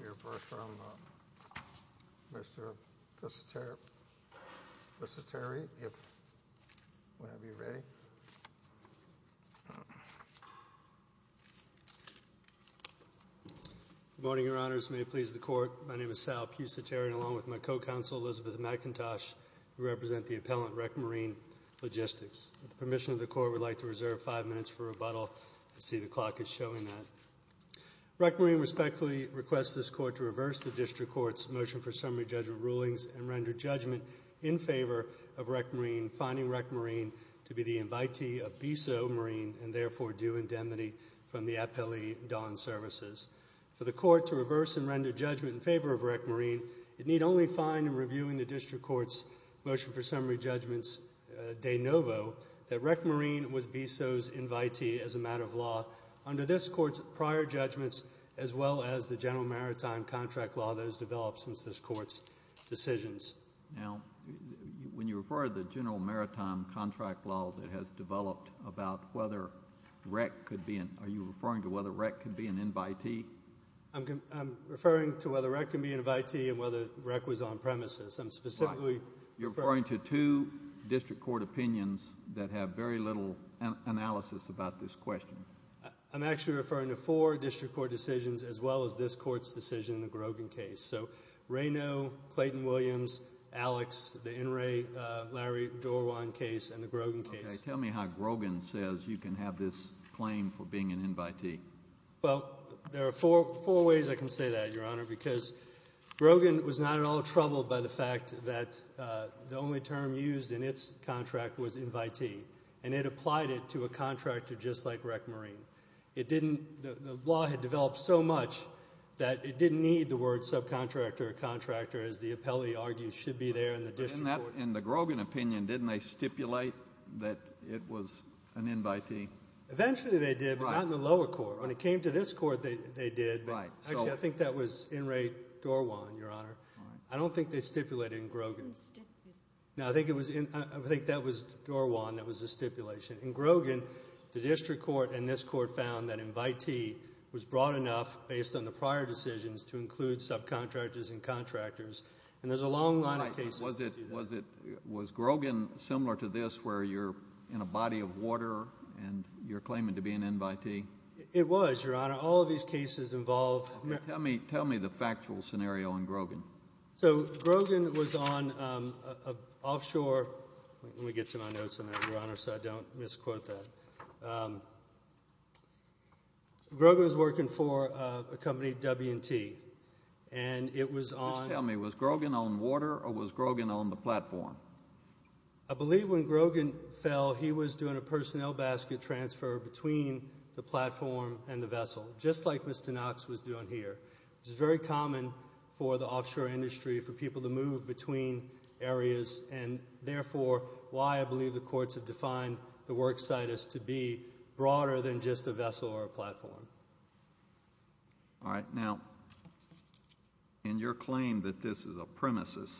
You're first from Mr. Vissiteri, if we have you ready. Good morning, Your Honors, may it please the Court, my name is Sal Vissiteri along with my co-counsel, Elizabeth McIntosh, who represent the appellant, Wreck Marine Logistics. With the permission of the Court, we'd like to reserve five minutes for rebuttal. I see the clock is showing that. Wreck Marine respectfully requests this Court to reverse the District Court's motion for summary judgment rulings and render judgment in favor of Wreck Marine, finding Wreck Marine to be the invitee of Bisso Marine and therefore due indemnity from the Appellee Don Services. For the Court to reverse and render judgment in favor of Wreck Marine, it need only find in reviewing the District Court's motion for summary judgments de novo that Wreck Marine was Bisso's invitee as a matter of law under this Court's prior judgments as well as the General Maritime Contract law that has developed since this Court's decisions. Now, when you refer to the General Maritime Contract law that has developed about whether Wreck could be an, are you referring to whether Wreck could be an invitee? I'm referring to whether Wreck could be an invitee and whether Wreck was on premises. I'm specifically referring to two District Court opinions that have very little analysis about this question. I'm actually referring to four District Court decisions as well as this Court's decision in the Grogan case. So, Raynaud, Clayton-Williams, Alex, the N. Ray, Larry Dorwan case and the Grogan case. Tell me how Grogan says you can have this claim for being an invitee. Well, there are four ways I can say that, Your Honor, because Grogan was not at all troubled by the fact that the only term used in its contract was invitee and it applied it to a contractor just like Wreck Marine. It didn't, the law had developed so much that it didn't need the word subcontractor or contractor as the appellee argues should be there in the District Court. In the Grogan opinion, didn't they stipulate that it was an invitee? Eventually they did, but not in the lower court. When it came to this Court, they did. Actually, I think that was N. Ray Dorwan, Your Honor. I don't think they stipulated in Grogan. No, I think it was, I think that was Dorwan that was the stipulation. In Grogan, the District Court and this Court found that invitee was broad enough based on the prior decisions to include subcontractors and contractors, and there's a long line of cases to do that. All right. Was it, was it, was Grogan similar to this where you're in a body of water and you're claiming to be an invitee? It was, Your Honor. All of these cases involve merit. Tell me the factual scenario in Grogan. So Grogan was on an offshore, let me get to my notes on that, Your Honor, so I don't misquote that. Grogan was working for a company, W&T, and it was on... Just tell me, was Grogan on water or was Grogan on the platform? I believe when Grogan fell, he was doing a personnel basket transfer between the platform and the vessel, just like Mr. Knox was doing here, which is very common for the offshore industry for people to move between areas, and therefore, why I believe the courts have defined the worksite as to be broader than just a vessel or a platform. All right, now, in your claim that this is a premises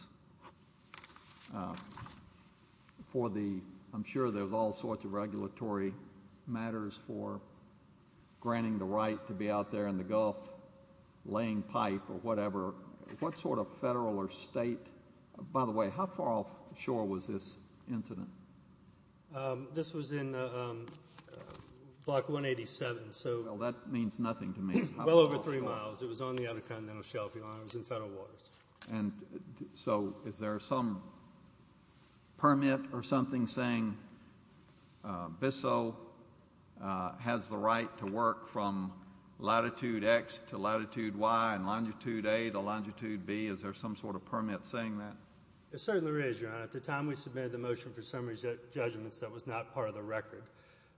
for the, I'm sure there's all sorts of regulatory matters for granting the right to be out there in the Gulf laying pipe or whatever, what sort of federal or state, by the way, how far offshore was this incident? This was in Block 187, so... That means nothing to me. Well over three miles. It was on the other continental shelf, Your Honor, it was in federal waters. And so, is there some permit or something saying BISO has the right to work from latitude X to latitude Y and longitude A to longitude B? Is there some sort of permit saying that? There certainly is, Your Honor. At the time we submitted the motion for summary judgments, that was not part of the record,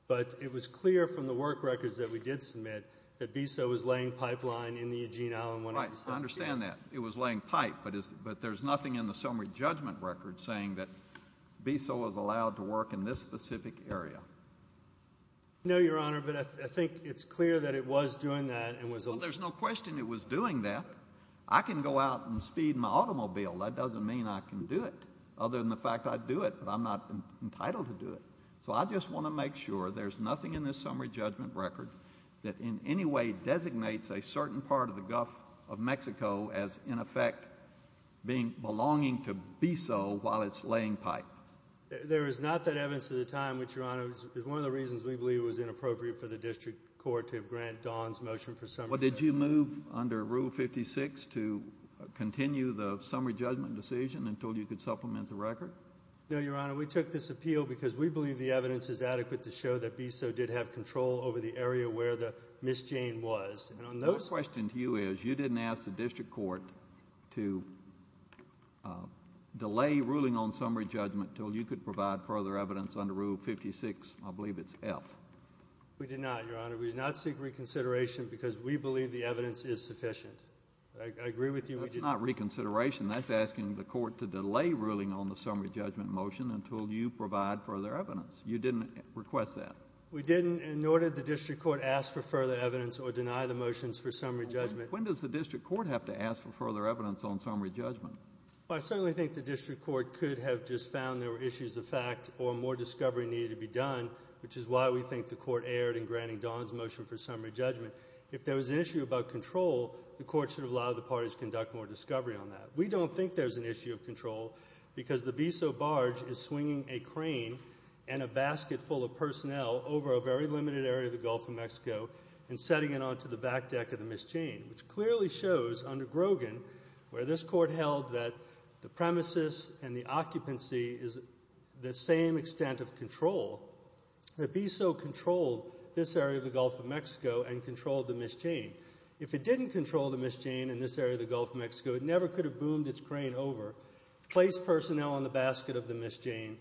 but it was clear from the work records that we did submit that BISO was laying pipeline in the Eugene Island when... I understand that. It was laying pipe, but there's nothing in the summary judgment record saying that BISO was allowed to work in this specific area. No, Your Honor, but I think it's clear that it was doing that and was... Well, there's no question it was doing that. I can go out and speed my automobile, that doesn't mean I can do it, other than the fact I do it, but I'm not entitled to do it. So I just want to make sure there's nothing in this summary judgment record that in any way designates a certain part of the Gulf of Mexico as, in effect, belonging to BISO while it's laying pipe. There is not that evidence at the time, which, Your Honor, is one of the reasons we believe was inappropriate for the district court to have grant Don's motion for summary... Well, did you move under Rule 56 to continue the summary judgment decision until you could supplement the record? No, Your Honor, we took this appeal because we believe the evidence is adequate to show that BISO did have control over the area where the misdemeanor was, and on those... My question to you is, you didn't ask the district court to delay ruling on summary judgment until you could provide further evidence under Rule 56, I believe it's F. We did not, Your Honor. We did not seek reconsideration because we believe the evidence is sufficient. I agree with you. That's not reconsideration, that's asking the court to delay ruling on the summary judgment motion until you provide further evidence. You didn't request that? We didn't, nor did the district court ask for further evidence or deny the motions for summary judgment. When does the district court have to ask for further evidence on summary judgment? Well, I certainly think the district court could have just found there were issues of fact or more discovery needed to be done, which is why we think the court erred in granting Don's motion for summary judgment. If there was an issue about control, the court should have allowed the parties to conduct more discovery on that. We don't think there's an issue of control because the BISO barge is swinging a crane and a basket full of personnel over a very limited area of the Gulf of Mexico and setting it onto the back deck of the Miss Jane, which clearly shows under Grogan where this court held that the premises and the occupancy is the same extent of control, the BISO controlled this area of the Gulf of Mexico and controlled the Miss Jane. If it didn't control the Miss Jane in this area of the Gulf of Mexico, it never could have boomed its crane over, placed personnel on the basket of the Miss Jane,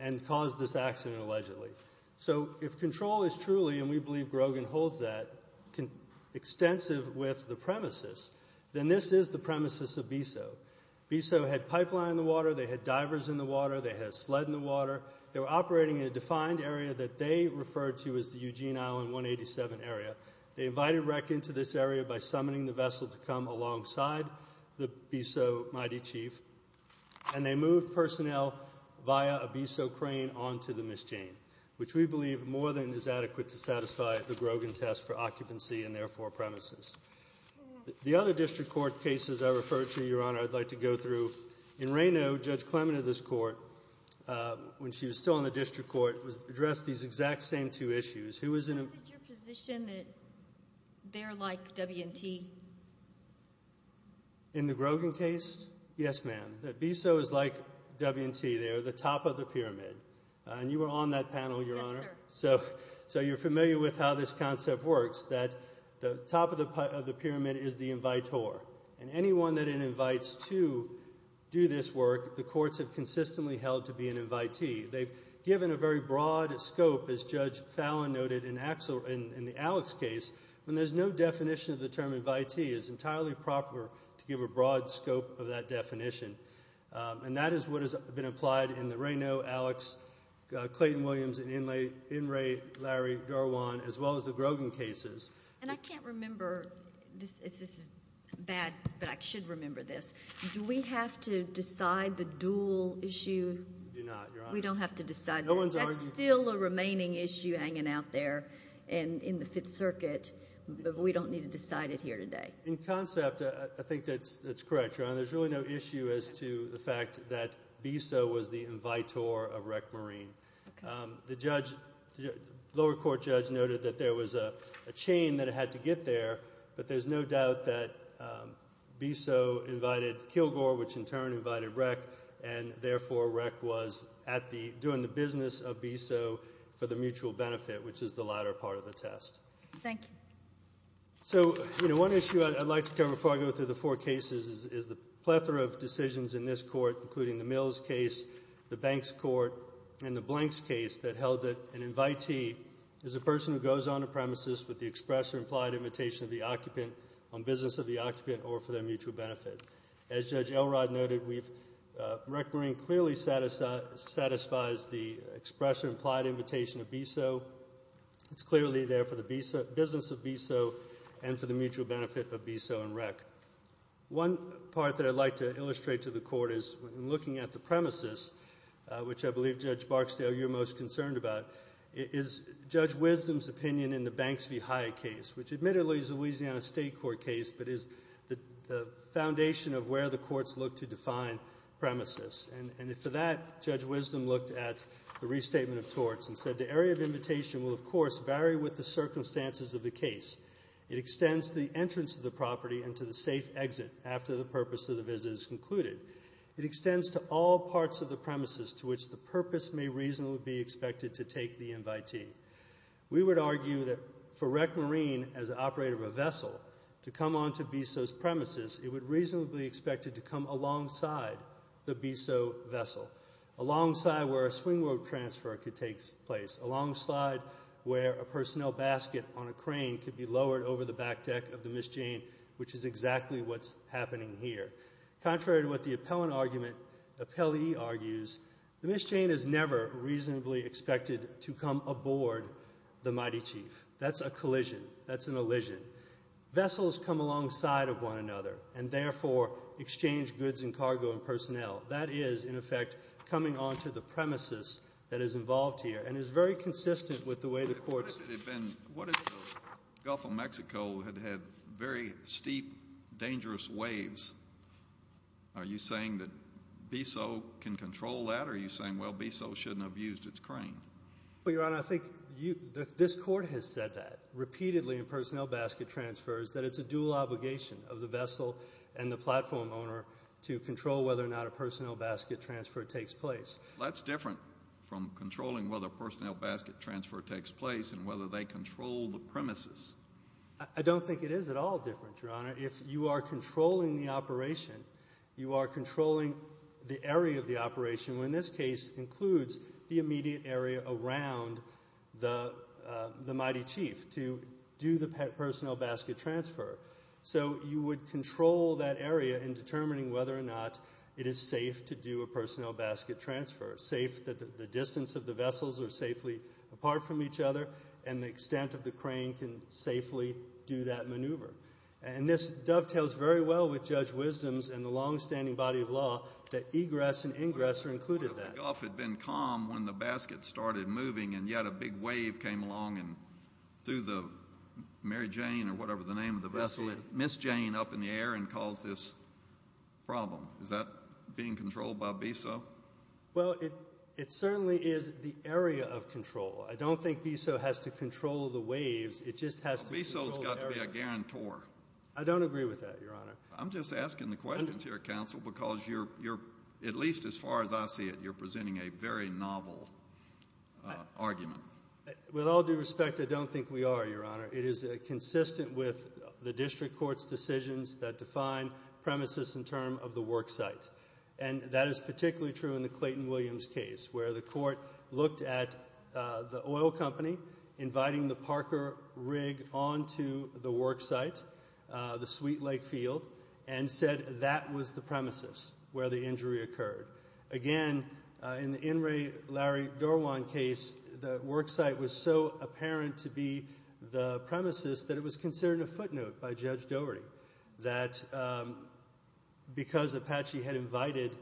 and caused this accident allegedly. So if control is truly, and we believe Grogan holds that, extensive with the premises, then this is the premises of BISO. BISO had pipeline in the water, they had divers in the water, they had sled in the water. They were operating in a defined area that they referred to as the Eugene Island 187 area. They invited wreck into this area by summoning the vessel to come alongside the BISO mighty chief and they moved personnel via a BISO crane onto the Miss Jane, which we believe more than is adequate to satisfy the Grogan test for occupancy in their four premises. The other district court cases I referred to, Your Honor, I'd like to go through. In Reno, Judge Clement of this court, when she was still in the district court, addressed these exact same two issues. Who is in a- Is it your position that they're like W&T? In the Grogan case? Yes, ma'am. That BISO is like W&T, they are the top of the pyramid. And you were on that panel, Your Honor. Yes, sir. So you're familiar with how this concept works, that the top of the pyramid is the invitor. And anyone that it invites to do this work, the courts have consistently held to be an invitee. They've given a very broad scope, as Judge Fallon noted in the Alex case, when there's no definition of the term invitee, it's entirely proper to give a broad scope of that definition. And that is what has been applied in the Reno, Alex, Clayton-Williams, Inlay, Larry, Darwan, as well as the Grogan cases. And I can't remember, this is bad, but I should remember this, do we have to decide the dual issue? We do not, Your Honor. We don't have to decide that. That's still a remaining issue hanging out there in the Fifth Circuit, but we don't need to decide it here today. In concept, I think that's correct, Your Honor. There's really no issue as to the fact that BISO was the invitor of REC Marine. The lower court judge noted that there was a chain that it had to get there, but there's no doubt that BISO invited Kilgore, which in turn invited REC, and therefore REC was doing the business of BISO for the mutual benefit, which is the latter part of the test. Thank you. So, you know, one issue I'd like to cover before I go through the four cases is the plethora of decisions in this Court, including the Mills case, the Banks court, and the Blanks case that held that an invitee is a person who goes on a premises with the express or on business of the occupant or for their mutual benefit. As Judge Elrod noted, REC Marine clearly satisfies the express or implied invitation of BISO. It's clearly there for the business of BISO and for the mutual benefit of BISO and REC. One part that I'd like to illustrate to the Court is in looking at the premises, which I believe, Judge Barksdale, you're most concerned about, is Judge Wisdom's opinion in the Banks v. Hyatt case, which admittedly is a Louisiana State Court case, but is the foundation of where the courts look to define premises. And for that, Judge Wisdom looked at the restatement of torts and said, the area of invitation will, of course, vary with the circumstances of the case. It extends to the entrance of the property and to the safe exit after the purpose of the visit is concluded. It extends to all parts of the premises to which the purpose may reasonably be expected to take the invitee. We would argue that for REC Marine, as an operator of a vessel, to come onto BISO's premises, it would reasonably be expected to come alongside the BISO vessel, alongside where a swing rope transfer could take place, alongside where a personnel basket on a crane could be lowered over the back deck of the Miss Jane, which is exactly what's happening here. Contrary to what the appellant argument, the appellee argues, the Miss Jane is never reasonably expected to come aboard the Mighty Chief. That's a collision. That's an elision. Vessels come alongside of one another and, therefore, exchange goods and cargo and personnel. That is, in effect, coming onto the premises that is involved here and is very consistent with the way the courts— What if it had been—what if the Gulf of Mexico had had very steep, dangerous waves? Are you saying that BISO can control that, or are you saying, well, BISO shouldn't have used its crane? Well, Your Honor, I think this Court has said that repeatedly in personnel basket transfers, that it's a dual obligation of the vessel and the platform owner to control whether or not a personnel basket transfer takes place. That's different from controlling whether a personnel basket transfer takes place and whether they control the premises. I don't think it is at all different, Your Honor. If you are controlling the operation, you are controlling the area of the operation, when this case includes the immediate area around the mighty chief to do the personnel basket transfer. So you would control that area in determining whether or not it is safe to do a personnel basket transfer, safe that the distance of the vessels are safely apart from each other and the extent of the crane can safely do that maneuver. And this dovetails very well with Judge Wisdom's and the longstanding body of law that egress and ingress are included in that. I thought the Gulf had been calm when the basket started moving and yet a big wave came along and threw the Mary Jane or whatever the name of the vessel, Miss Jane, up in the air and caused this problem. Is that being controlled by BISO? Well, it certainly is the area of control. I don't think BISO has to control the waves. It just has to control the area. Well, BISO has got to be a guarantor. I don't agree with that, Your Honor. I'm just asking the questions here, Counsel, because you're, at least as far as I see it, you're presenting a very novel argument. With all due respect, I don't think we are, Your Honor. It is consistent with the district court's decisions that define premises and term of the worksite. And that is particularly true in the Clayton Williams case, where the court looked at the and said that was the premises where the injury occurred. Again, in the In re. Larry Dorwan case, the worksite was so apparent to be the premises that it was considered a footnote by Judge Doherty that because Apache had invited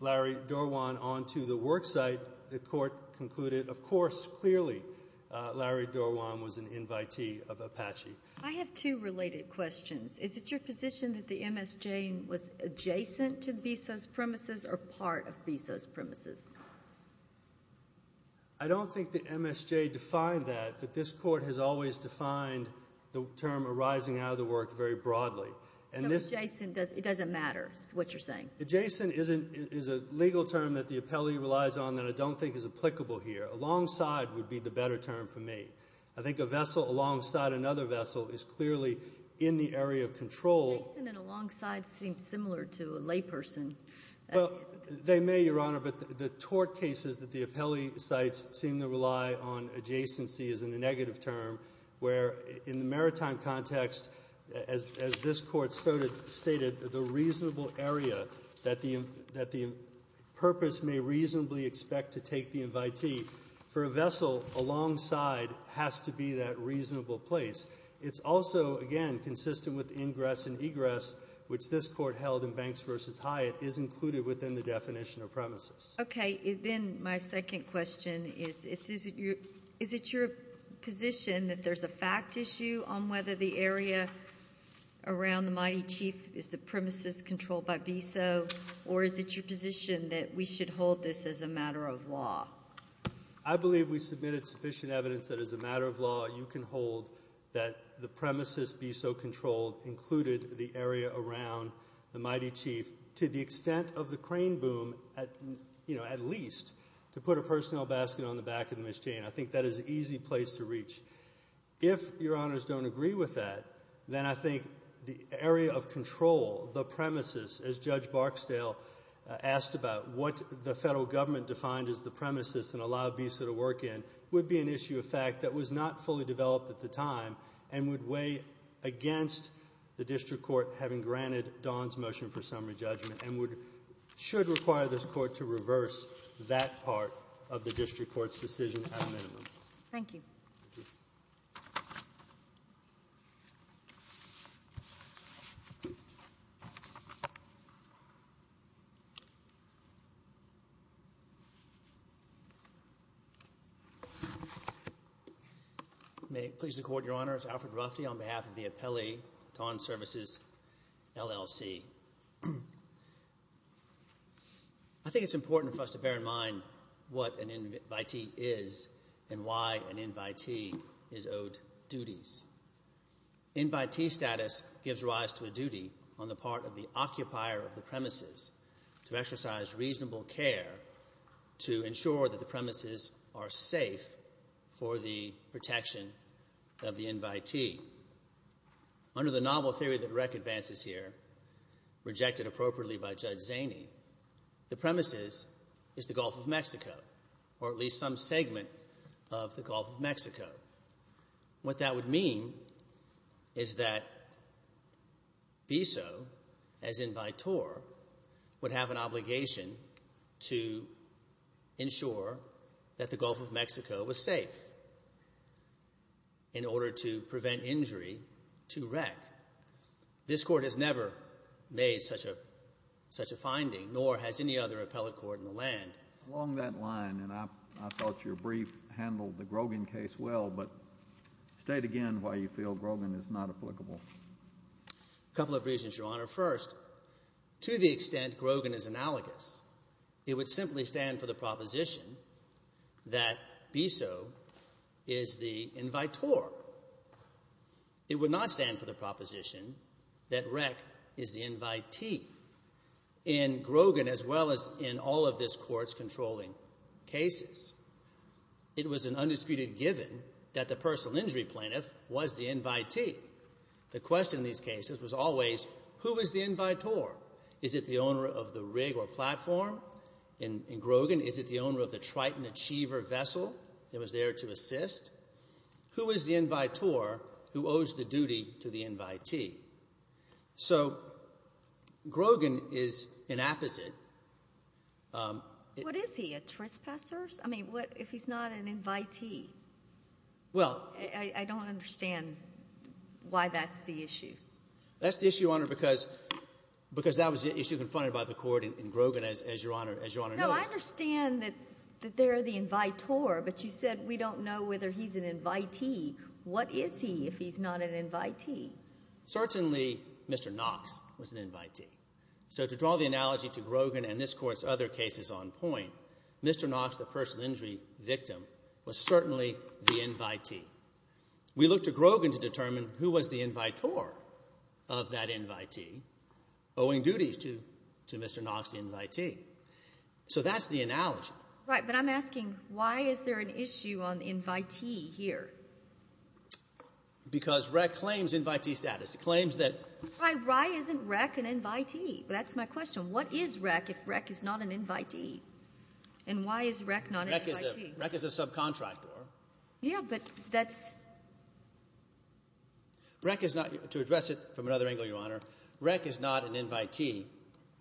Larry Dorwan onto the worksite, the court concluded, of course, clearly, Larry Dorwan was an invitee of Apache. I have two related questions. Is it your position that the MSJ was adjacent to BISO's premises or part of BISO's premises? I don't think the MSJ defined that, but this court has always defined the term arising out of the work very broadly. So adjacent, it doesn't matter what you're saying? Adjacent is a legal term that the appellee relies on that I don't think is applicable here. Alongside would be the better term for me. I think a vessel alongside another vessel is clearly in the area of control. Adjacent and alongside seem similar to a layperson. Well, they may, Your Honor, but the tort cases that the appellee cites seem to rely on adjacency is a negative term, where in the maritime context, as this court stated, the reasonable area that the purpose may reasonably expect to take the invitee, for a has to be that reasonable place. It's also, again, consistent with ingress and egress, which this court held in Banks v. Hyatt is included within the definition of premises. Okay. Then my second question is, is it your position that there's a fact issue on whether the area around the mighty chief is the premises controlled by BISO, or is it your position that we should hold this as a matter of law? I believe we submitted sufficient evidence that as a matter of law, you can hold that the premises BISO controlled included the area around the mighty chief to the extent of the crane boom, at least to put a personnel basket on the back of the machine. I think that is an easy place to reach. If Your Honors don't agree with that, then I think the area of control, the premises, as Judge Barksdale asked about what the federal government defined as the premises and allowed BISO to work in, would be an issue of fact that was not fully developed at the time and would weigh against the district court having granted Don's motion for summary judgment and should require this court to reverse that part of the district court's decision at minimum. Thank you. May it please the court, Your Honors, Alfred Rufty on behalf of the appellee, Don Services, LLC. I think it's important for us to bear in mind what an invitee is and why an invitee is owed duties. Invitee status gives rise to a duty on the part of the occupier of the premises to ensure that the premises are safe for the protection of the invitee. Under the novel theory that Rec advances here, rejected appropriately by Judge Zaney, the premises is the Gulf of Mexico or at least some segment of the Gulf of Mexico. What that would mean is that BISO, as invitor, would have an obligation to ensure that the Gulf of Mexico was safe in order to prevent injury to Rec. This court has never made such a such a finding nor has any other appellate court in the land. Along that line, and I thought your brief handled the Grogan case well, but state again why you feel Grogan is not applicable. Couple of reasons, Your Honor. First, to the extent Grogan is analogous, it would simply stand for the proposition that BISO is the invitor. It would not stand for the proposition that Rec is the invitee. In Grogan, as well as in all of this court's controlling cases, it was an undisputed given that the personal injury plaintiff was the invitee. The question in these cases was always, who is the invitor? Is it the owner of the rig or platform? In Grogan, is it the owner of the Triton Achiever vessel that was there to assist? Who is the invitor who owes the duty to the invitee? So, Grogan is an apposite. What is he, a trespasser? I mean, what if he's not an invitee? Well, I don't understand why that's the issue. That's the issue, Your Honor, because that was the issue confronted by the court in the first instance, Your Honor, as Your Honor knows. No, I understand that they're the invitor, but you said we don't know whether he's an invitee. What is he if he's not an invitee? Certainly, Mr. Knox was an invitee. So, to draw the analogy to Grogan and this court's other cases on point, Mr. Knox, the personal injury victim, was certainly the invitee. We look to Grogan to determine who was the invitor of that invitee owing duties to Mr. Knox, the invitee. So, that's the analogy. Right, but I'm asking, why is there an issue on the invitee here? Because REC claims invitee status. It claims that... Why isn't REC an invitee? That's my question. What is REC if REC is not an invitee? And why is REC not an invitee? REC is a subcontractor. Yeah, but that's... REC is not, to address it from another angle, Your Honor, REC is not an invitee.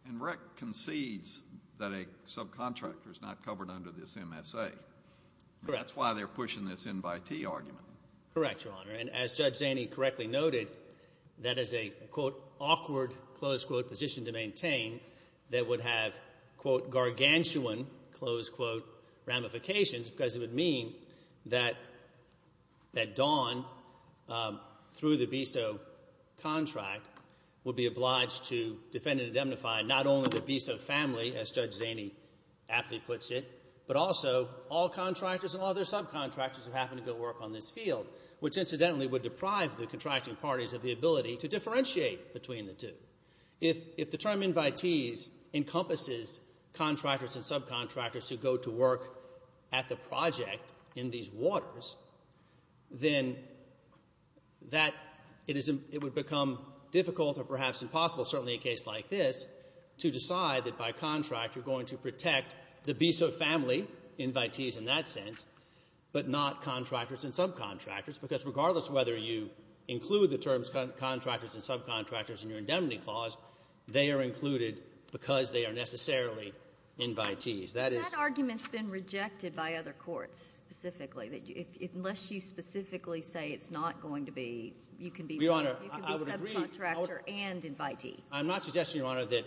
And REC concedes that a subcontractor is not covered under this MSA. Correct. And that's why they're pushing this invitee argument. Correct, Your Honor. And as Judge Zaney correctly noted, that is a, quote, awkward, close quote, position to maintain that would have, quote, gargantuan, close quote, ramifications because it would mean that Dawn, through the BISO contract, would be obliged to defend and indemnify not only the BISO family, as Judge Zaney aptly puts it, but also all contractors and all their subcontractors who happen to go work on this field, which incidentally would deprive the contracting parties of the ability to differentiate between the two. If the term invitees encompasses contractors and subcontractors who go to work at the project in these waters, then that, it would become difficult or perhaps impossible, certainly a case like this, to decide that by contract you're going to protect the BISO family, invitees in that sense, but not contractors and subcontractors, because regardless of whether you include the terms contractors and subcontractors in your indemnity clause, they are included because they are necessarily invitees. That is — That argument's been rejected by other courts specifically, that unless you specifically say it's not going to be, you can be — Your Honor, I would agree — I'm not suggesting, Your Honor, that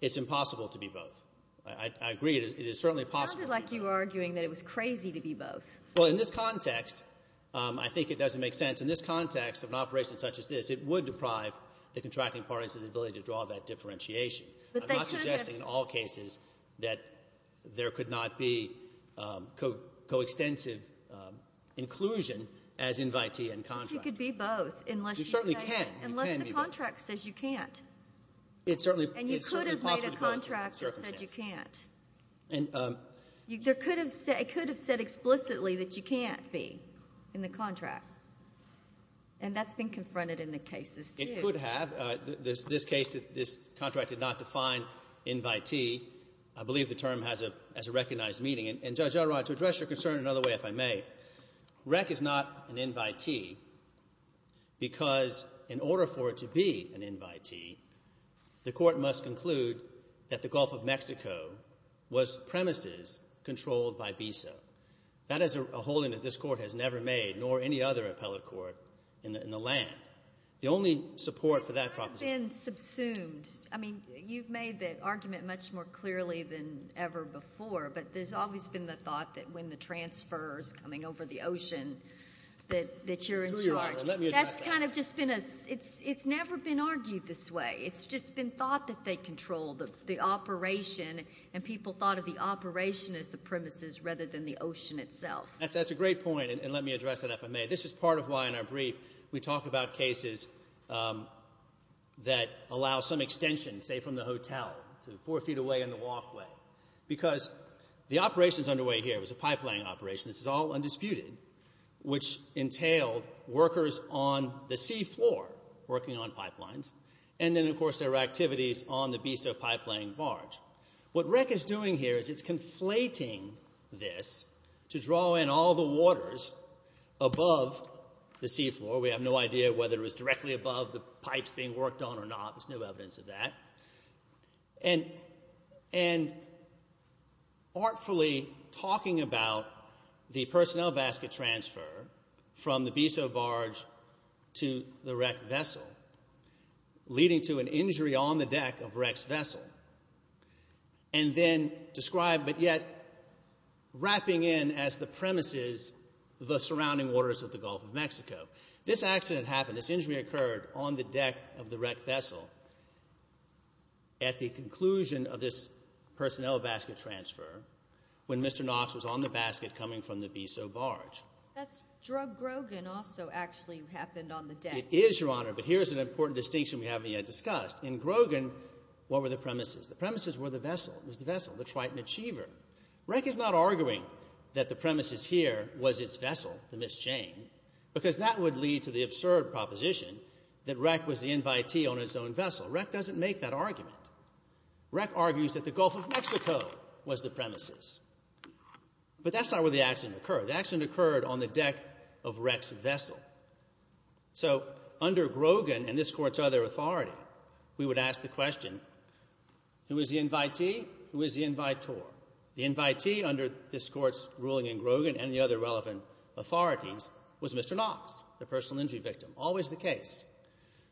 it's impossible to be both. I agree it is certainly possible. It sounded like you were arguing that it was crazy to be both. Well, in this context, I think it doesn't make sense. In this context of an operation such as this, it would deprive the contracting parties of the ability to draw that differentiation. I'm not suggesting in all cases that there could not be coextensive inclusion as invitee and contractor. But you could be both, unless you say — You certainly can. You can be both. And you could have made a contract that said you can't. And you could have made a contract that said you can't. And there could have — it could have said explicitly that you can't be in the contract. And that's been confronted in the cases, too. It could have. This case, this contract did not define invitee. I believe the term has a recognized meaning. And, Judge Elrod, to address your concern another way, if I may, REC is not an invitee because in order for it to be an invitee, the court must conclude that the Gulf of Mexico was premises controlled by BISA. That is a holding that this court has never made, nor any other appellate court in the land. The only support for that proposition — You've been subsumed. I mean, you've made the argument much more clearly than ever before. But there's always been the thought that when the transfer is coming over the ocean, that you're in charge. That's kind of just been a — it's never been argued this way. It's just been thought that they control the operation. And people thought of the operation as the premises rather than the ocean itself. That's a great point. And let me address it, if I may. This is part of why, in our brief, we talk about cases that allow some extension, say, from the hotel to four feet away on the walkway. Because the operations underway here was a pipeline operation. This is all undisputed, which entailed workers on the seafloor working on pipelines. And then, of course, there were activities on the BISA Pipeline Barge. What REC is doing here is it's conflating this to draw in all the waters above the seafloor. We have no idea whether it was directly above the pipes being worked on or not. There's no evidence of that. And artfully talking about the personnel basket transfer from the BISA Barge to the REC vessel, leading to an injury on the deck of REC's vessel, and then describe — but yet wrapping in as the premises the surrounding waters of the Gulf of Mexico. This accident happened. This injury occurred on the deck of the REC vessel at the conclusion of this personnel basket transfer when Mr. Knox was on the basket coming from the BISA Barge. That's drug Grogan also actually happened on the deck. It is, Your Honor, but here's an important distinction we haven't yet discussed. In Grogan, what were the premises? The premises were the vessel. It was the vessel, the Triton Achiever. REC is not arguing that the premises here was its vessel, the Miss Jane, because that would lead to the absurd proposition that REC was the invitee on its own vessel. REC doesn't make that argument. REC argues that the Gulf of Mexico was the premises, but that's not where the accident occurred. The accident occurred on the deck of REC's vessel. So under Grogan and this Court's other authority, we would ask the question, who is the invitee, who is the invitor? The invitee under this Court's ruling in Grogan and the other relevant authorities was Mr. Knox, the personal injury victim, always the case.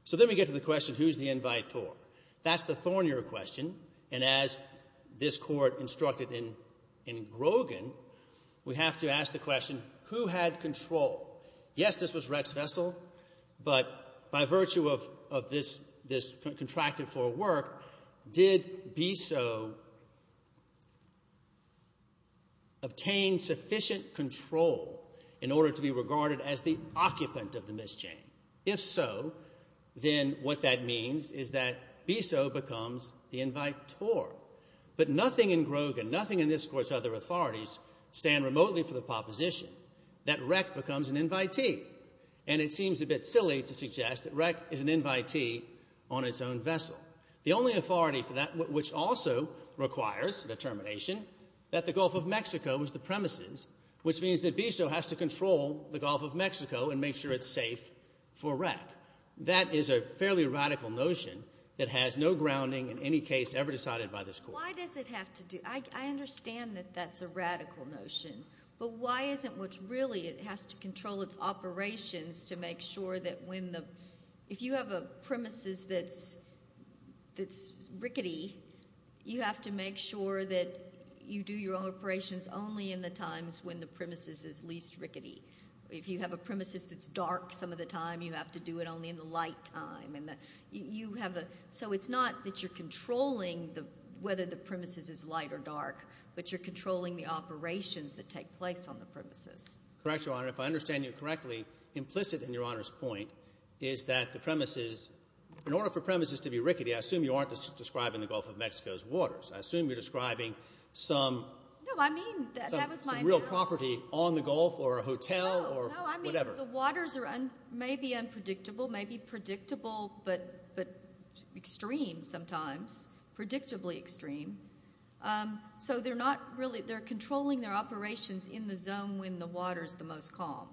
So then we get to the question, who's the invitor? That's the thornier question, and as this Court instructed in Grogan, we have to ask the question, who had control? Yes, this was REC's vessel, but by virtue of this contracted for work, did BISO obtain sufficient control in order to be regarded as the occupant of the Miss Jane? If so, then what that means is that BISO becomes the invitor. But nothing in Grogan, nothing in this Court's other authorities stand remotely for the proposition that REC becomes an invitee, and it seems a bit silly to suggest that REC is an invitee on its own vessel. The only authority for that, which also requires determination, that the Gulf of Mexico was the premises, which means that BISO has to control the Gulf of Mexico and make sure it's safe for REC. That is a fairly radical notion that has no grounding in any case ever decided by this Court. Why does it have to do, I understand that that's a radical notion, but why isn't what really it has to control its operations to make sure that when the, if you have a premises that's rickety, you have to make sure that you do your operations only in the times when the premises is least rickety. If you have a premises that's dark some of the time, you have to do it only in the light time, and you have a, so it's not that you're controlling the, whether the premises is light or dark, but you're controlling the operations that take place on the premises. Correct, Your Honor. If I understand you correctly, implicit in Your Honor's point is that the premises, in order for premises to be rickety, I assume you aren't describing the Gulf of Mexico's waters. I assume you're describing some real property on the Gulf, or a hotel, or whatever. The waters may be unpredictable, may be predictable, but extreme sometimes, predictably extreme. So they're not really, they're controlling their operations in the zone when the water's the most calm.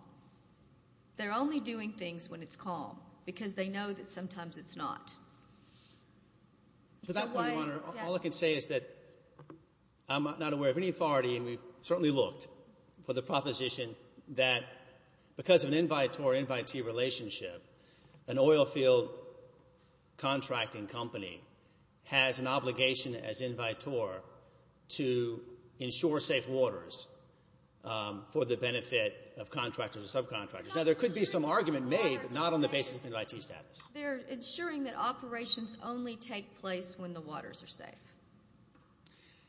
They're only doing things when it's calm, because they know that sometimes it's not. For that one, Your Honor, all I can say is that I'm not aware of any authority, and we've certainly looked for the proposition that because of an invitor-invitee relationship, an oilfield contracting company has an obligation as invitor to ensure safe waters for the benefit of contractors or subcontractors. Now there could be some argument made, but not on the basis of invitee status. They're ensuring that operations only take place when the waters are safe,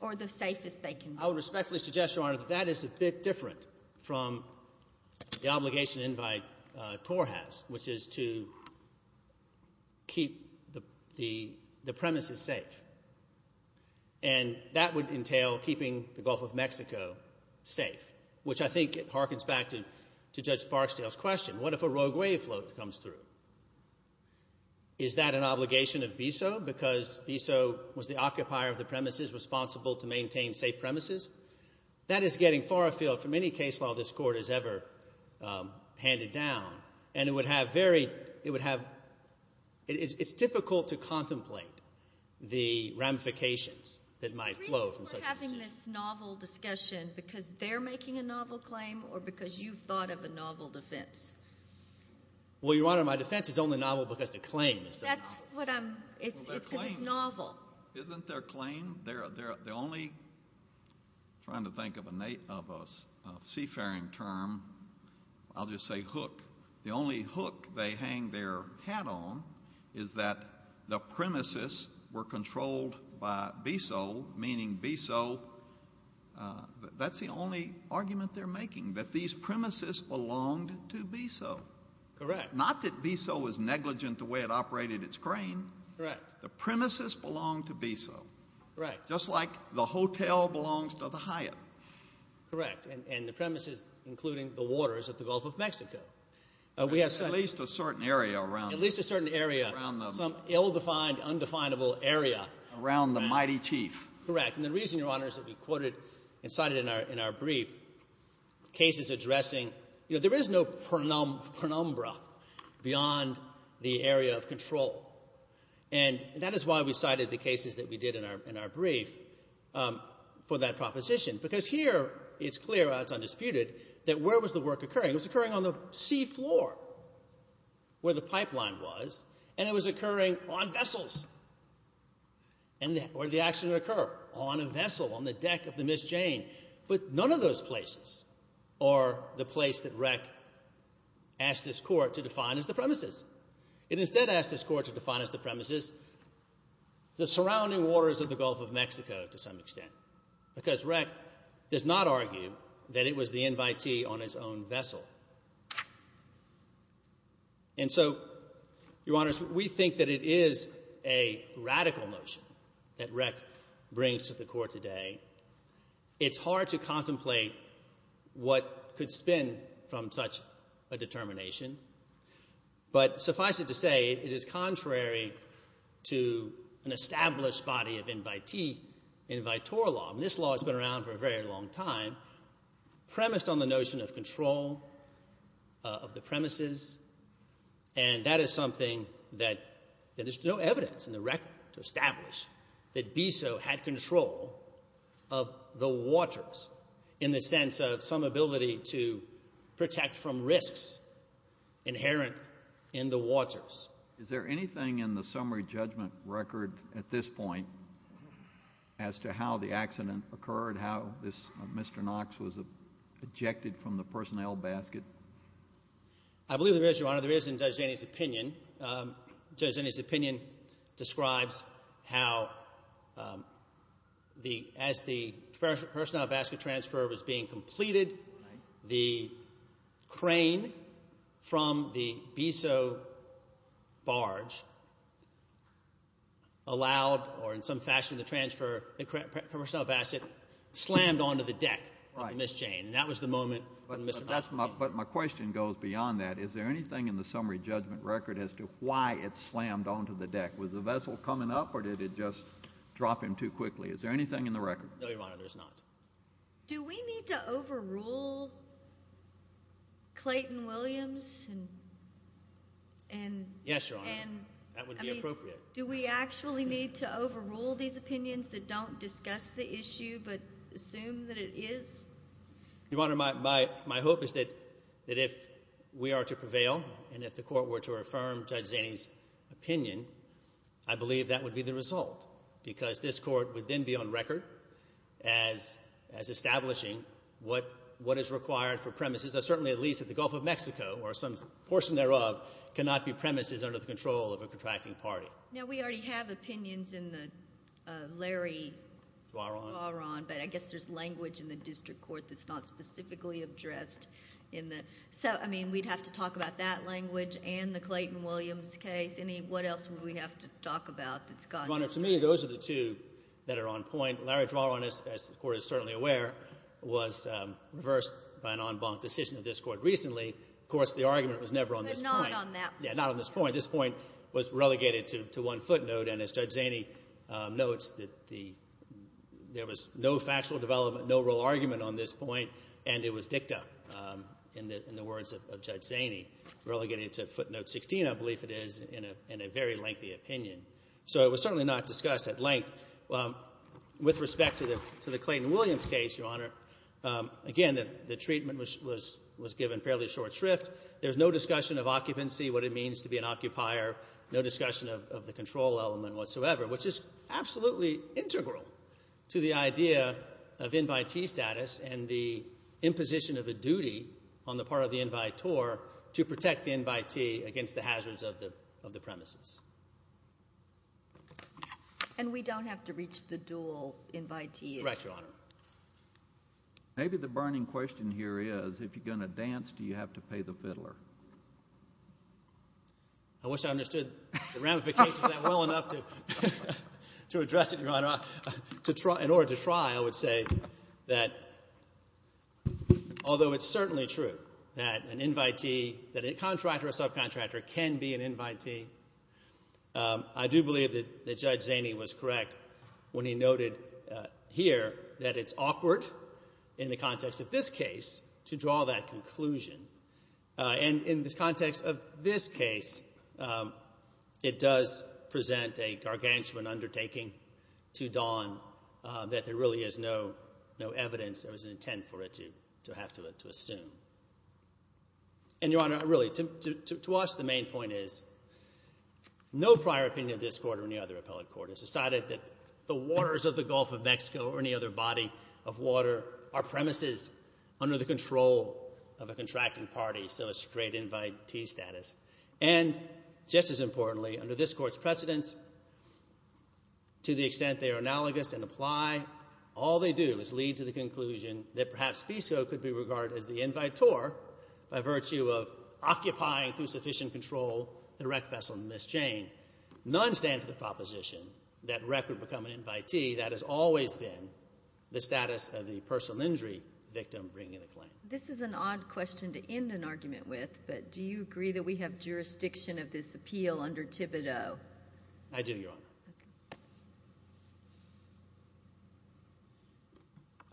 or the safest they can be. I would respectfully suggest, Your Honor, that that is a bit different from the obligation an invitee has, which is to keep the premises safe. And that would entail keeping the Gulf of Mexico safe, which I think harkens back to Judge Barksdale's question, what if a rogue wavefloat comes through? Is that an obligation of BISO, because BISO was the occupier of the premises responsible to maintain safe premises? That is getting far afield from any case law this Court has ever handed down, and it would have very, it would have, it's difficult to contemplate the ramifications that might flow from such a decision. Are you having this novel discussion because they're making a novel claim, or because you've thought of a novel defense? Well, Your Honor, my defense is only novel because the claim is novel. That's what I'm, it's because it's novel. Isn't their claim, their, their, their only, I'm trying to think of a, of a seafaring term, I'll just say hook. The only hook they hang their hat on is that the premises were controlled by BISO, meaning BISO, that's the only argument they're making, that these premises belonged to BISO. Correct. Not that BISO was negligent the way it operated its crane. Correct. The premises belonged to BISO. Correct. Just like the hotel belongs to the Hyatt. Correct. And, and the premises, including the waters of the Gulf of Mexico. We have At least a certain area around At least a certain area Around the Some ill-defined, undefinable area. Around the mighty chief. Correct. And the reason, Your Honor, is that we quoted and cited in our, in our brief cases addressing, you know, there is no penumbra beyond the area of control. And that is why we cited the cases that we did in our, in our brief for that proposition. Because here it's clear, it's undisputed, that where was the work occurring? It was on vessels. And where did the accident occur? On a vessel, on the deck of the Miss Jane. But none of those places are the place that REC asked this Court to define as the premises. It instead asked this Court to define as the premises the surrounding waters of the Gulf of Mexico, to some extent. Because REC does not argue that it was the invitee on his own vessel. And so, Your Honors, we think that it is a radical notion that REC brings to the Court today. It's hard to contemplate what could spin from such a determination. But suffice it to say, it is contrary to an established body of invitee, invitor law. And this law has been around for a very long time, premised on the notion of control of the premises. And that is something that there's no evidence in the REC to establish that BISO had control of the waters, in the sense of some ability to protect from risks inherent in the waters. Is there anything in the summary judgment record at this point as to how the accident occurred, how this Mr. Knox was ejected from the personnel basket? I believe there is, Your Honor. There is in Judge Zani's opinion. Judge Zani's opinion describes how, as the personnel basket transfer was being completed, the crane from the BISO barge allowed, or in some fashion, the transfer, the personnel basket slammed onto the deck of Ms. Jane. Right. And that was the moment when Mr. Knox came. But my question goes beyond that. Is there anything in the summary judgment record as to why it slammed onto the deck? Was the vessel coming up, or did it just drop him too quickly? Is there anything in the record? No, Your Honor, there's not. Do we need to overrule Clayton Williams? Yes, Your Honor. That would be appropriate. Do we actually need to overrule these opinions that don't discuss the issue, but assume that it is? Your Honor, my hope is that if we are to prevail, and if the Court were to affirm Judge Zani's opinion, I believe that would be the result, because this Court would then be on record as establishing what is required for premises. Certainly, at least at the Gulf of Mexico, or some portion thereof, cannot be premises under the control of a contracting party. Now, we already have opinions in the Larry Dwaron, but I guess there's language in the district court that's not specifically addressed in the... So, I mean, we'd have to talk about that language and the Clayton Williams case. What else would we have to talk about that's gone? Your Honor, to me, those are the two that are on point. Larry Dwaron, as the Court is certainly aware, was reversed by an en banc decision of this Court recently. Of course, the argument was never on this point. But not on that point. Yeah, not on this point. This point was relegated to one footnote, and as Judge Zani notes, there was no factual development, no real argument on this point, and it was dicta in the words of Judge Zani, relegated to footnote 16, I believe it is, in a very lengthy opinion. So it was certainly not discussed at length. With respect to the Clayton Williams case, Your Honor, again, the treatment was given fairly short shrift. There's no discussion of occupancy, what it means to be an occupier, no discussion of the control element whatsoever, which is absolutely integral to the idea of invitee status and the imposition of a duty on the part of the invitor to protect the invitee against the hazards of the premises. And we don't have to reach the dual invitee issue? Correct, Your Honor. Maybe the burning question here is, if you're going to dance, do you have to pay the fiddler? I wish I understood the ramifications of that well enough to address it, Your Honor. In order to try, I would say that, although it's certainly true that an invitee, that a contractor or subcontractor can be an invitee, I do believe that Judge Zani was correct when he noted here that it's awkward in the context of this case to draw that conclusion. And in the context of this case, it does present a gargantuan undertaking to Don that there really is no evidence. There was an intent for it to have to assume. And, Your Honor, really, to us, the main point is no prior opinion of this Court or any other appellate court has decided that the waters of the Gulf of Mexico or any other body of water are premises under the control of a contracting party, so it's straight invitee status. And just as importantly, under this Court's precedence, to the extent they are analogous and apply, all they do is lead to the conclusion that perhaps FISO could be regarded as the invitee by virtue of occupying through sufficient control the wreck vessel Miss Jane. None stand for the proposition that wreck would become an invitee. That has always been the status of the personal injury victim bringing the claim. This is an odd question to end an argument with, but do you agree that we have jurisdiction of this appeal under Thibodeau? I do, Your Honor.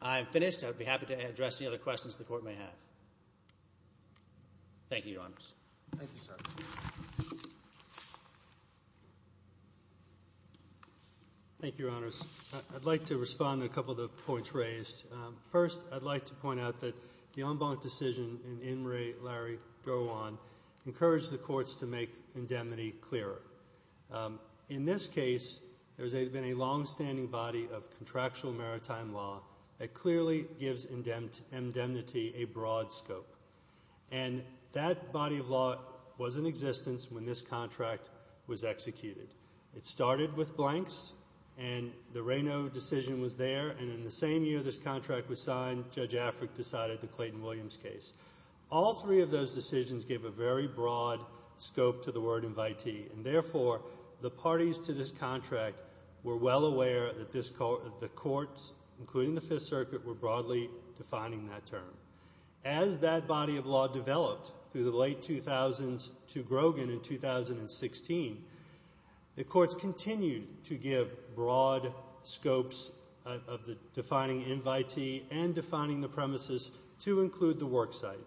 I'm finished. I would be happy to address any other questions the Court may have. Thank you, Your Honors. Thank you, Your Honors. I'd like to respond to a couple of the points raised. First, I'd like to point out that the en banc decision in In re Larry go on encouraged the courts to make indemnity clearer. In this case, there's been a long-standing body of contractual maritime law that clearly gives indemnity a broad scope, and that body of law was in existence when this contract was executed. It started with blanks, and the Reyno decision was there, and in the same year this contract was signed, Judge Afric decided the Clayton Williams case. All three of those decisions give a very broad scope to the word invitee, and therefore, the parties to this contract were well defining that term. As that body of law developed through the late 2000s to Grogan in 2016, the courts continued to give broad scopes of defining invitee and defining the premises to include the worksite.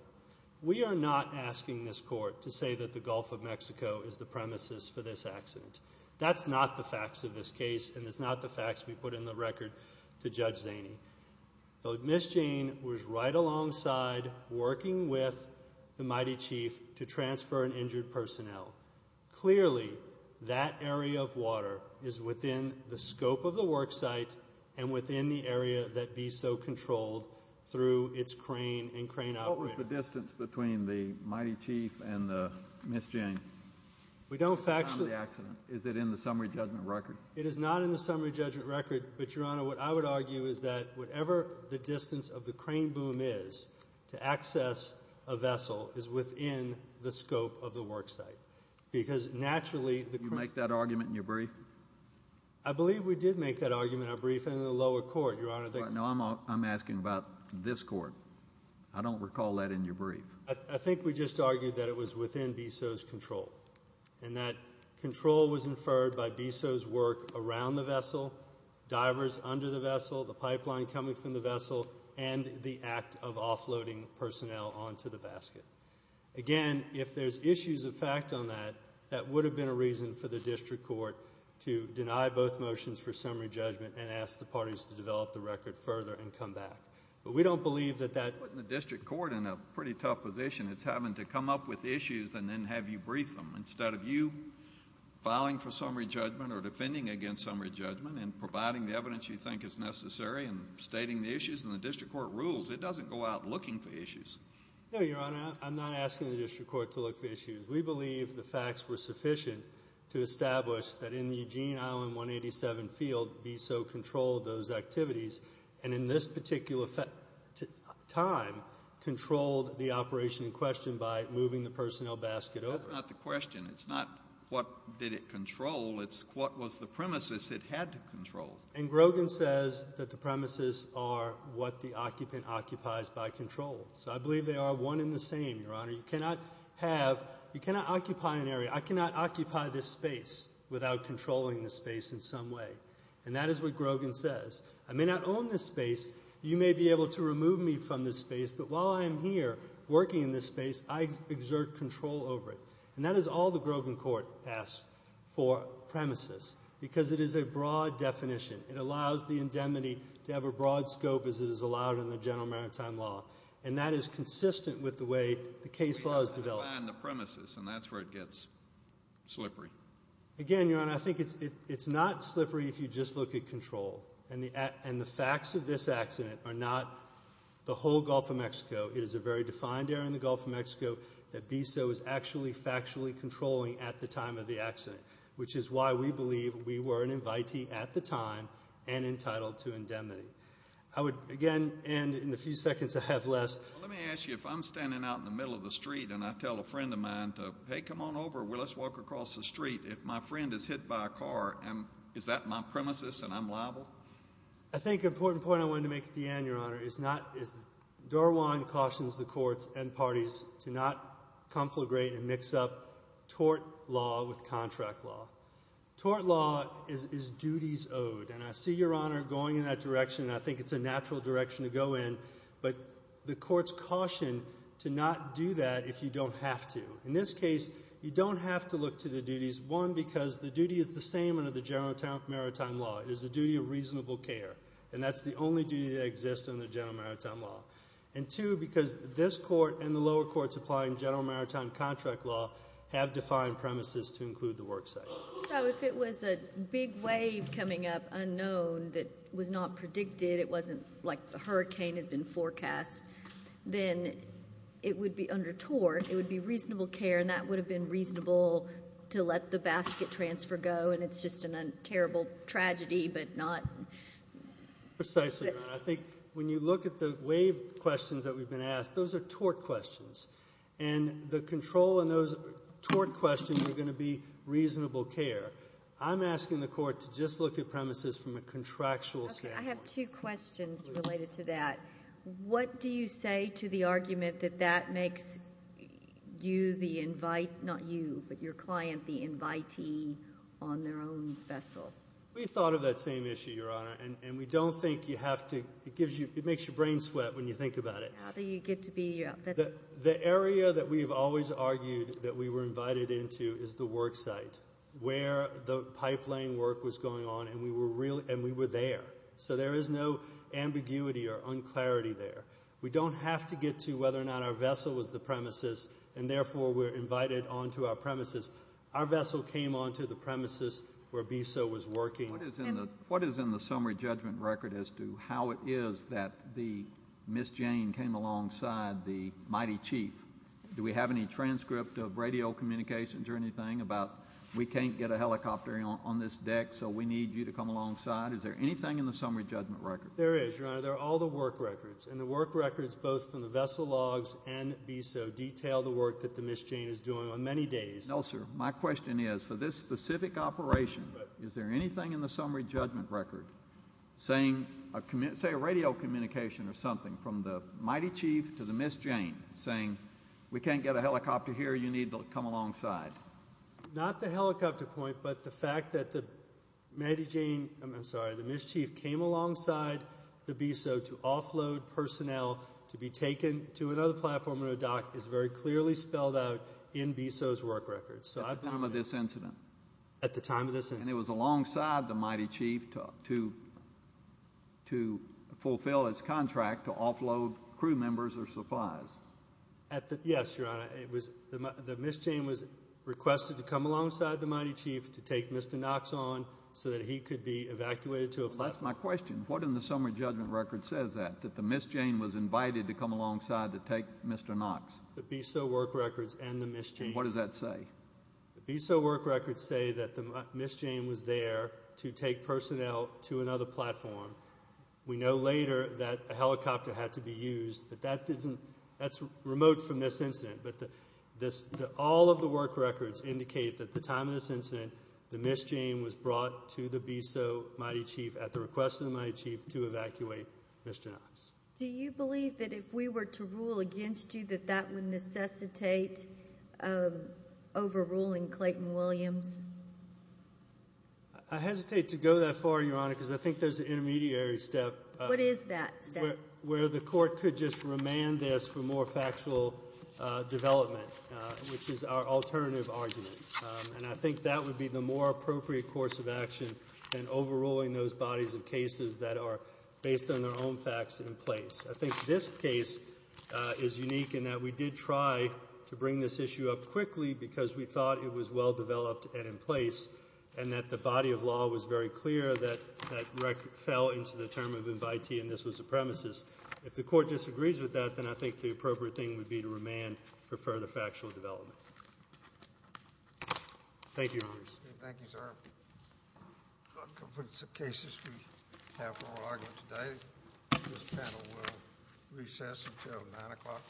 We are not asking this Court to say that the Gulf of Mexico is the premises for this accident. That's not the facts of this case, and it's not the facts we put in the case. Ms. Jane was right alongside working with the Mighty Chief to transfer an injured personnel. Clearly, that area of water is within the scope of the worksite and within the area that BISO controlled through its crane and crane operator. What was the distance between the Mighty Chief and Ms. Jane? We don't factually... Is it in the summary judgment record? It is not in the summary judgment record, but Your Honor, what I would argue is that whatever the distance of the crane boom is to access a vessel is within the scope of the worksite, because naturally... You make that argument in your brief? I believe we did make that argument in our brief in the lower court, Your Honor. No, I'm asking about this court. I don't recall that in your brief. I think we just argued that it was within BISO's control, and that control was inferred by BISO's work around the divers under the vessel, the pipeline coming from the vessel, and the act of offloading personnel onto the basket. Again, if there's issues of fact on that, that would have been a reason for the district court to deny both motions for summary judgment and ask the parties to develop the record further and come back, but we don't believe that that... Putting the district court in a pretty tough position. It's having to come up with issues and then have you brief them instead of you filing for summary judgment or defending against summary judgment and providing the evidence you think is necessary and stating the issues, and the district court rules. It doesn't go out looking for issues. No, Your Honor. I'm not asking the district court to look for issues. We believe the facts were sufficient to establish that in the Eugene Island 187 field, BISO controlled those activities, and in this particular time, controlled the operation in question by moving the personnel basket over. That's not the question. It's not what did it control. It's what was the premises it had to control. And Grogan says that the premises are what the occupant occupies by control, so I believe they are one in the same, Your Honor. You cannot have... You cannot occupy an area. I cannot occupy this space without controlling the space in some way, and that is what Grogan says. I may not own this space. You may be able to remove me from this space, but while I am here working in this space, I exert control over it, and that is all the Grogan court asked for premises because it is a broad definition. It allows the indemnity to have a broad scope as it is allowed in the general maritime law, and that is consistent with the way the case law is developed. Define the premises, and that's where it gets slippery. Again, Your Honor, I think it's not slippery if you just look at control, and the facts of this accident are not the whole Gulf of Mexico. That BISO is actually factually controlling at the time of the accident, which is why we believe we were an invitee at the time and entitled to indemnity. I would, again, end in the few seconds I have left. Let me ask you, if I'm standing out in the middle of the street and I tell a friend of mine to, hey, come on over. Let's walk across the street. If my friend is hit by a car, is that my premises and I'm liable? I think an important point I wanted to make at the end, Your Honor, is that Darwin cautions the courts and parties to not conflagrate and mix up tort law with contract law. Tort law is duties owed, and I see Your Honor going in that direction, and I think it's a natural direction to go in, but the courts caution to not do that if you don't have to. In this case, you don't have to look to the duties, one, because the duty is same under the General Maritime Law. It is the duty of reasonable care, and that's the only duty that exists under General Maritime Law, and two, because this Court and the lower courts applying General Maritime Contract Law have defined premises to include the work site. So if it was a big wave coming up, unknown, that was not predicted, it wasn't like the hurricane had been forecast, then it would be under tort, it would be reasonable care, and that would have been reasonable to let the basket transfer go, and it's just a terrible tragedy, but not... Precisely, Your Honor. I think when you look at the wave questions that we've been asked, those are tort questions, and the control in those tort questions are going to be reasonable care. I'm asking the Court to just look at premises from a contractual standpoint. I have two questions related to that. What do you say to the argument that that makes you the invite, not you, but your client the invitee on their own vessel? We thought of that same issue, Your Honor, and we don't think you have to, it gives you, it makes your brain sweat when you think about it. How do you get to be... The area that we've always argued that we were invited into is the work site, where the pipeline work was going on, and we were there, so there is no ambiguity or unclarity there. We don't have to get to whether or not our vessel was the premises, and therefore we're invited onto our premises. Our vessel came onto the premises where BESO was working. What is in the summary judgment record as to how it is that the Miss Jane came alongside the mighty chief? Do we have any transcript of radio communications or anything about we can't get a helicopter on this deck, so we need you to come alongside? Is there anything in the summary judgment record? There is, Your Honor, there are all the work records, and the work records both from the vessel logs and BESO detail the work that the Miss Jane is doing on many days. No, sir, my question is, for this specific operation, is there anything in the summary judgment record saying, say a radio communication or something from the mighty chief to the Miss Jane saying we can't get a helicopter here, you need to come alongside? Not the helicopter point, but the fact that the mighty Jane, I'm sorry, the Miss Chief came alongside the BESO to offload personnel to be taken to another platform on a dock is very clearly spelled out in BESO's work records. At the time of this incident? At the time of this incident. And it was alongside the mighty chief to fulfill its contract to offload crew members or supplies? Yes, Your Honor, the Miss Jane was requested to come alongside the mighty chief to take Mr. Knox so that he could be evacuated to a platform. That's my question, what in the summary judgment record says that, that the Miss Jane was invited to come alongside to take Mr. Knox? The BESO work records and the Miss Jane. And what does that say? The BESO work records say that the Miss Jane was there to take personnel to another platform. We know later that a helicopter had to be used, but that isn't, that's remote from this incident, but this, all of the work records indicate that the time of this incident, the Miss Jane was brought to the BESO mighty chief at the request of the mighty chief to evacuate Mr. Knox. Do you believe that if we were to rule against you, that that would necessitate overruling Clayton Williams? I hesitate to go that far, Your Honor, because I think there's an intermediary step. What is that step? Where the court could just remand this for more factual development, which is our alternative argument. And I think that would be the more appropriate course of action than overruling those bodies of cases that are based on their own facts in place. I think this case is unique in that we did try to bring this issue up quickly because we thought it was well-developed and in place, and that the body of law was very clear that that fell into the term of invitee and this was the premises. If the court disagrees with that, then I think the appropriate thing would be to remand for further factual development. Thank you, Your Honor. Thank you, sir. That concludes the cases we have for our argument today. This panel will recess until 9 o'clock.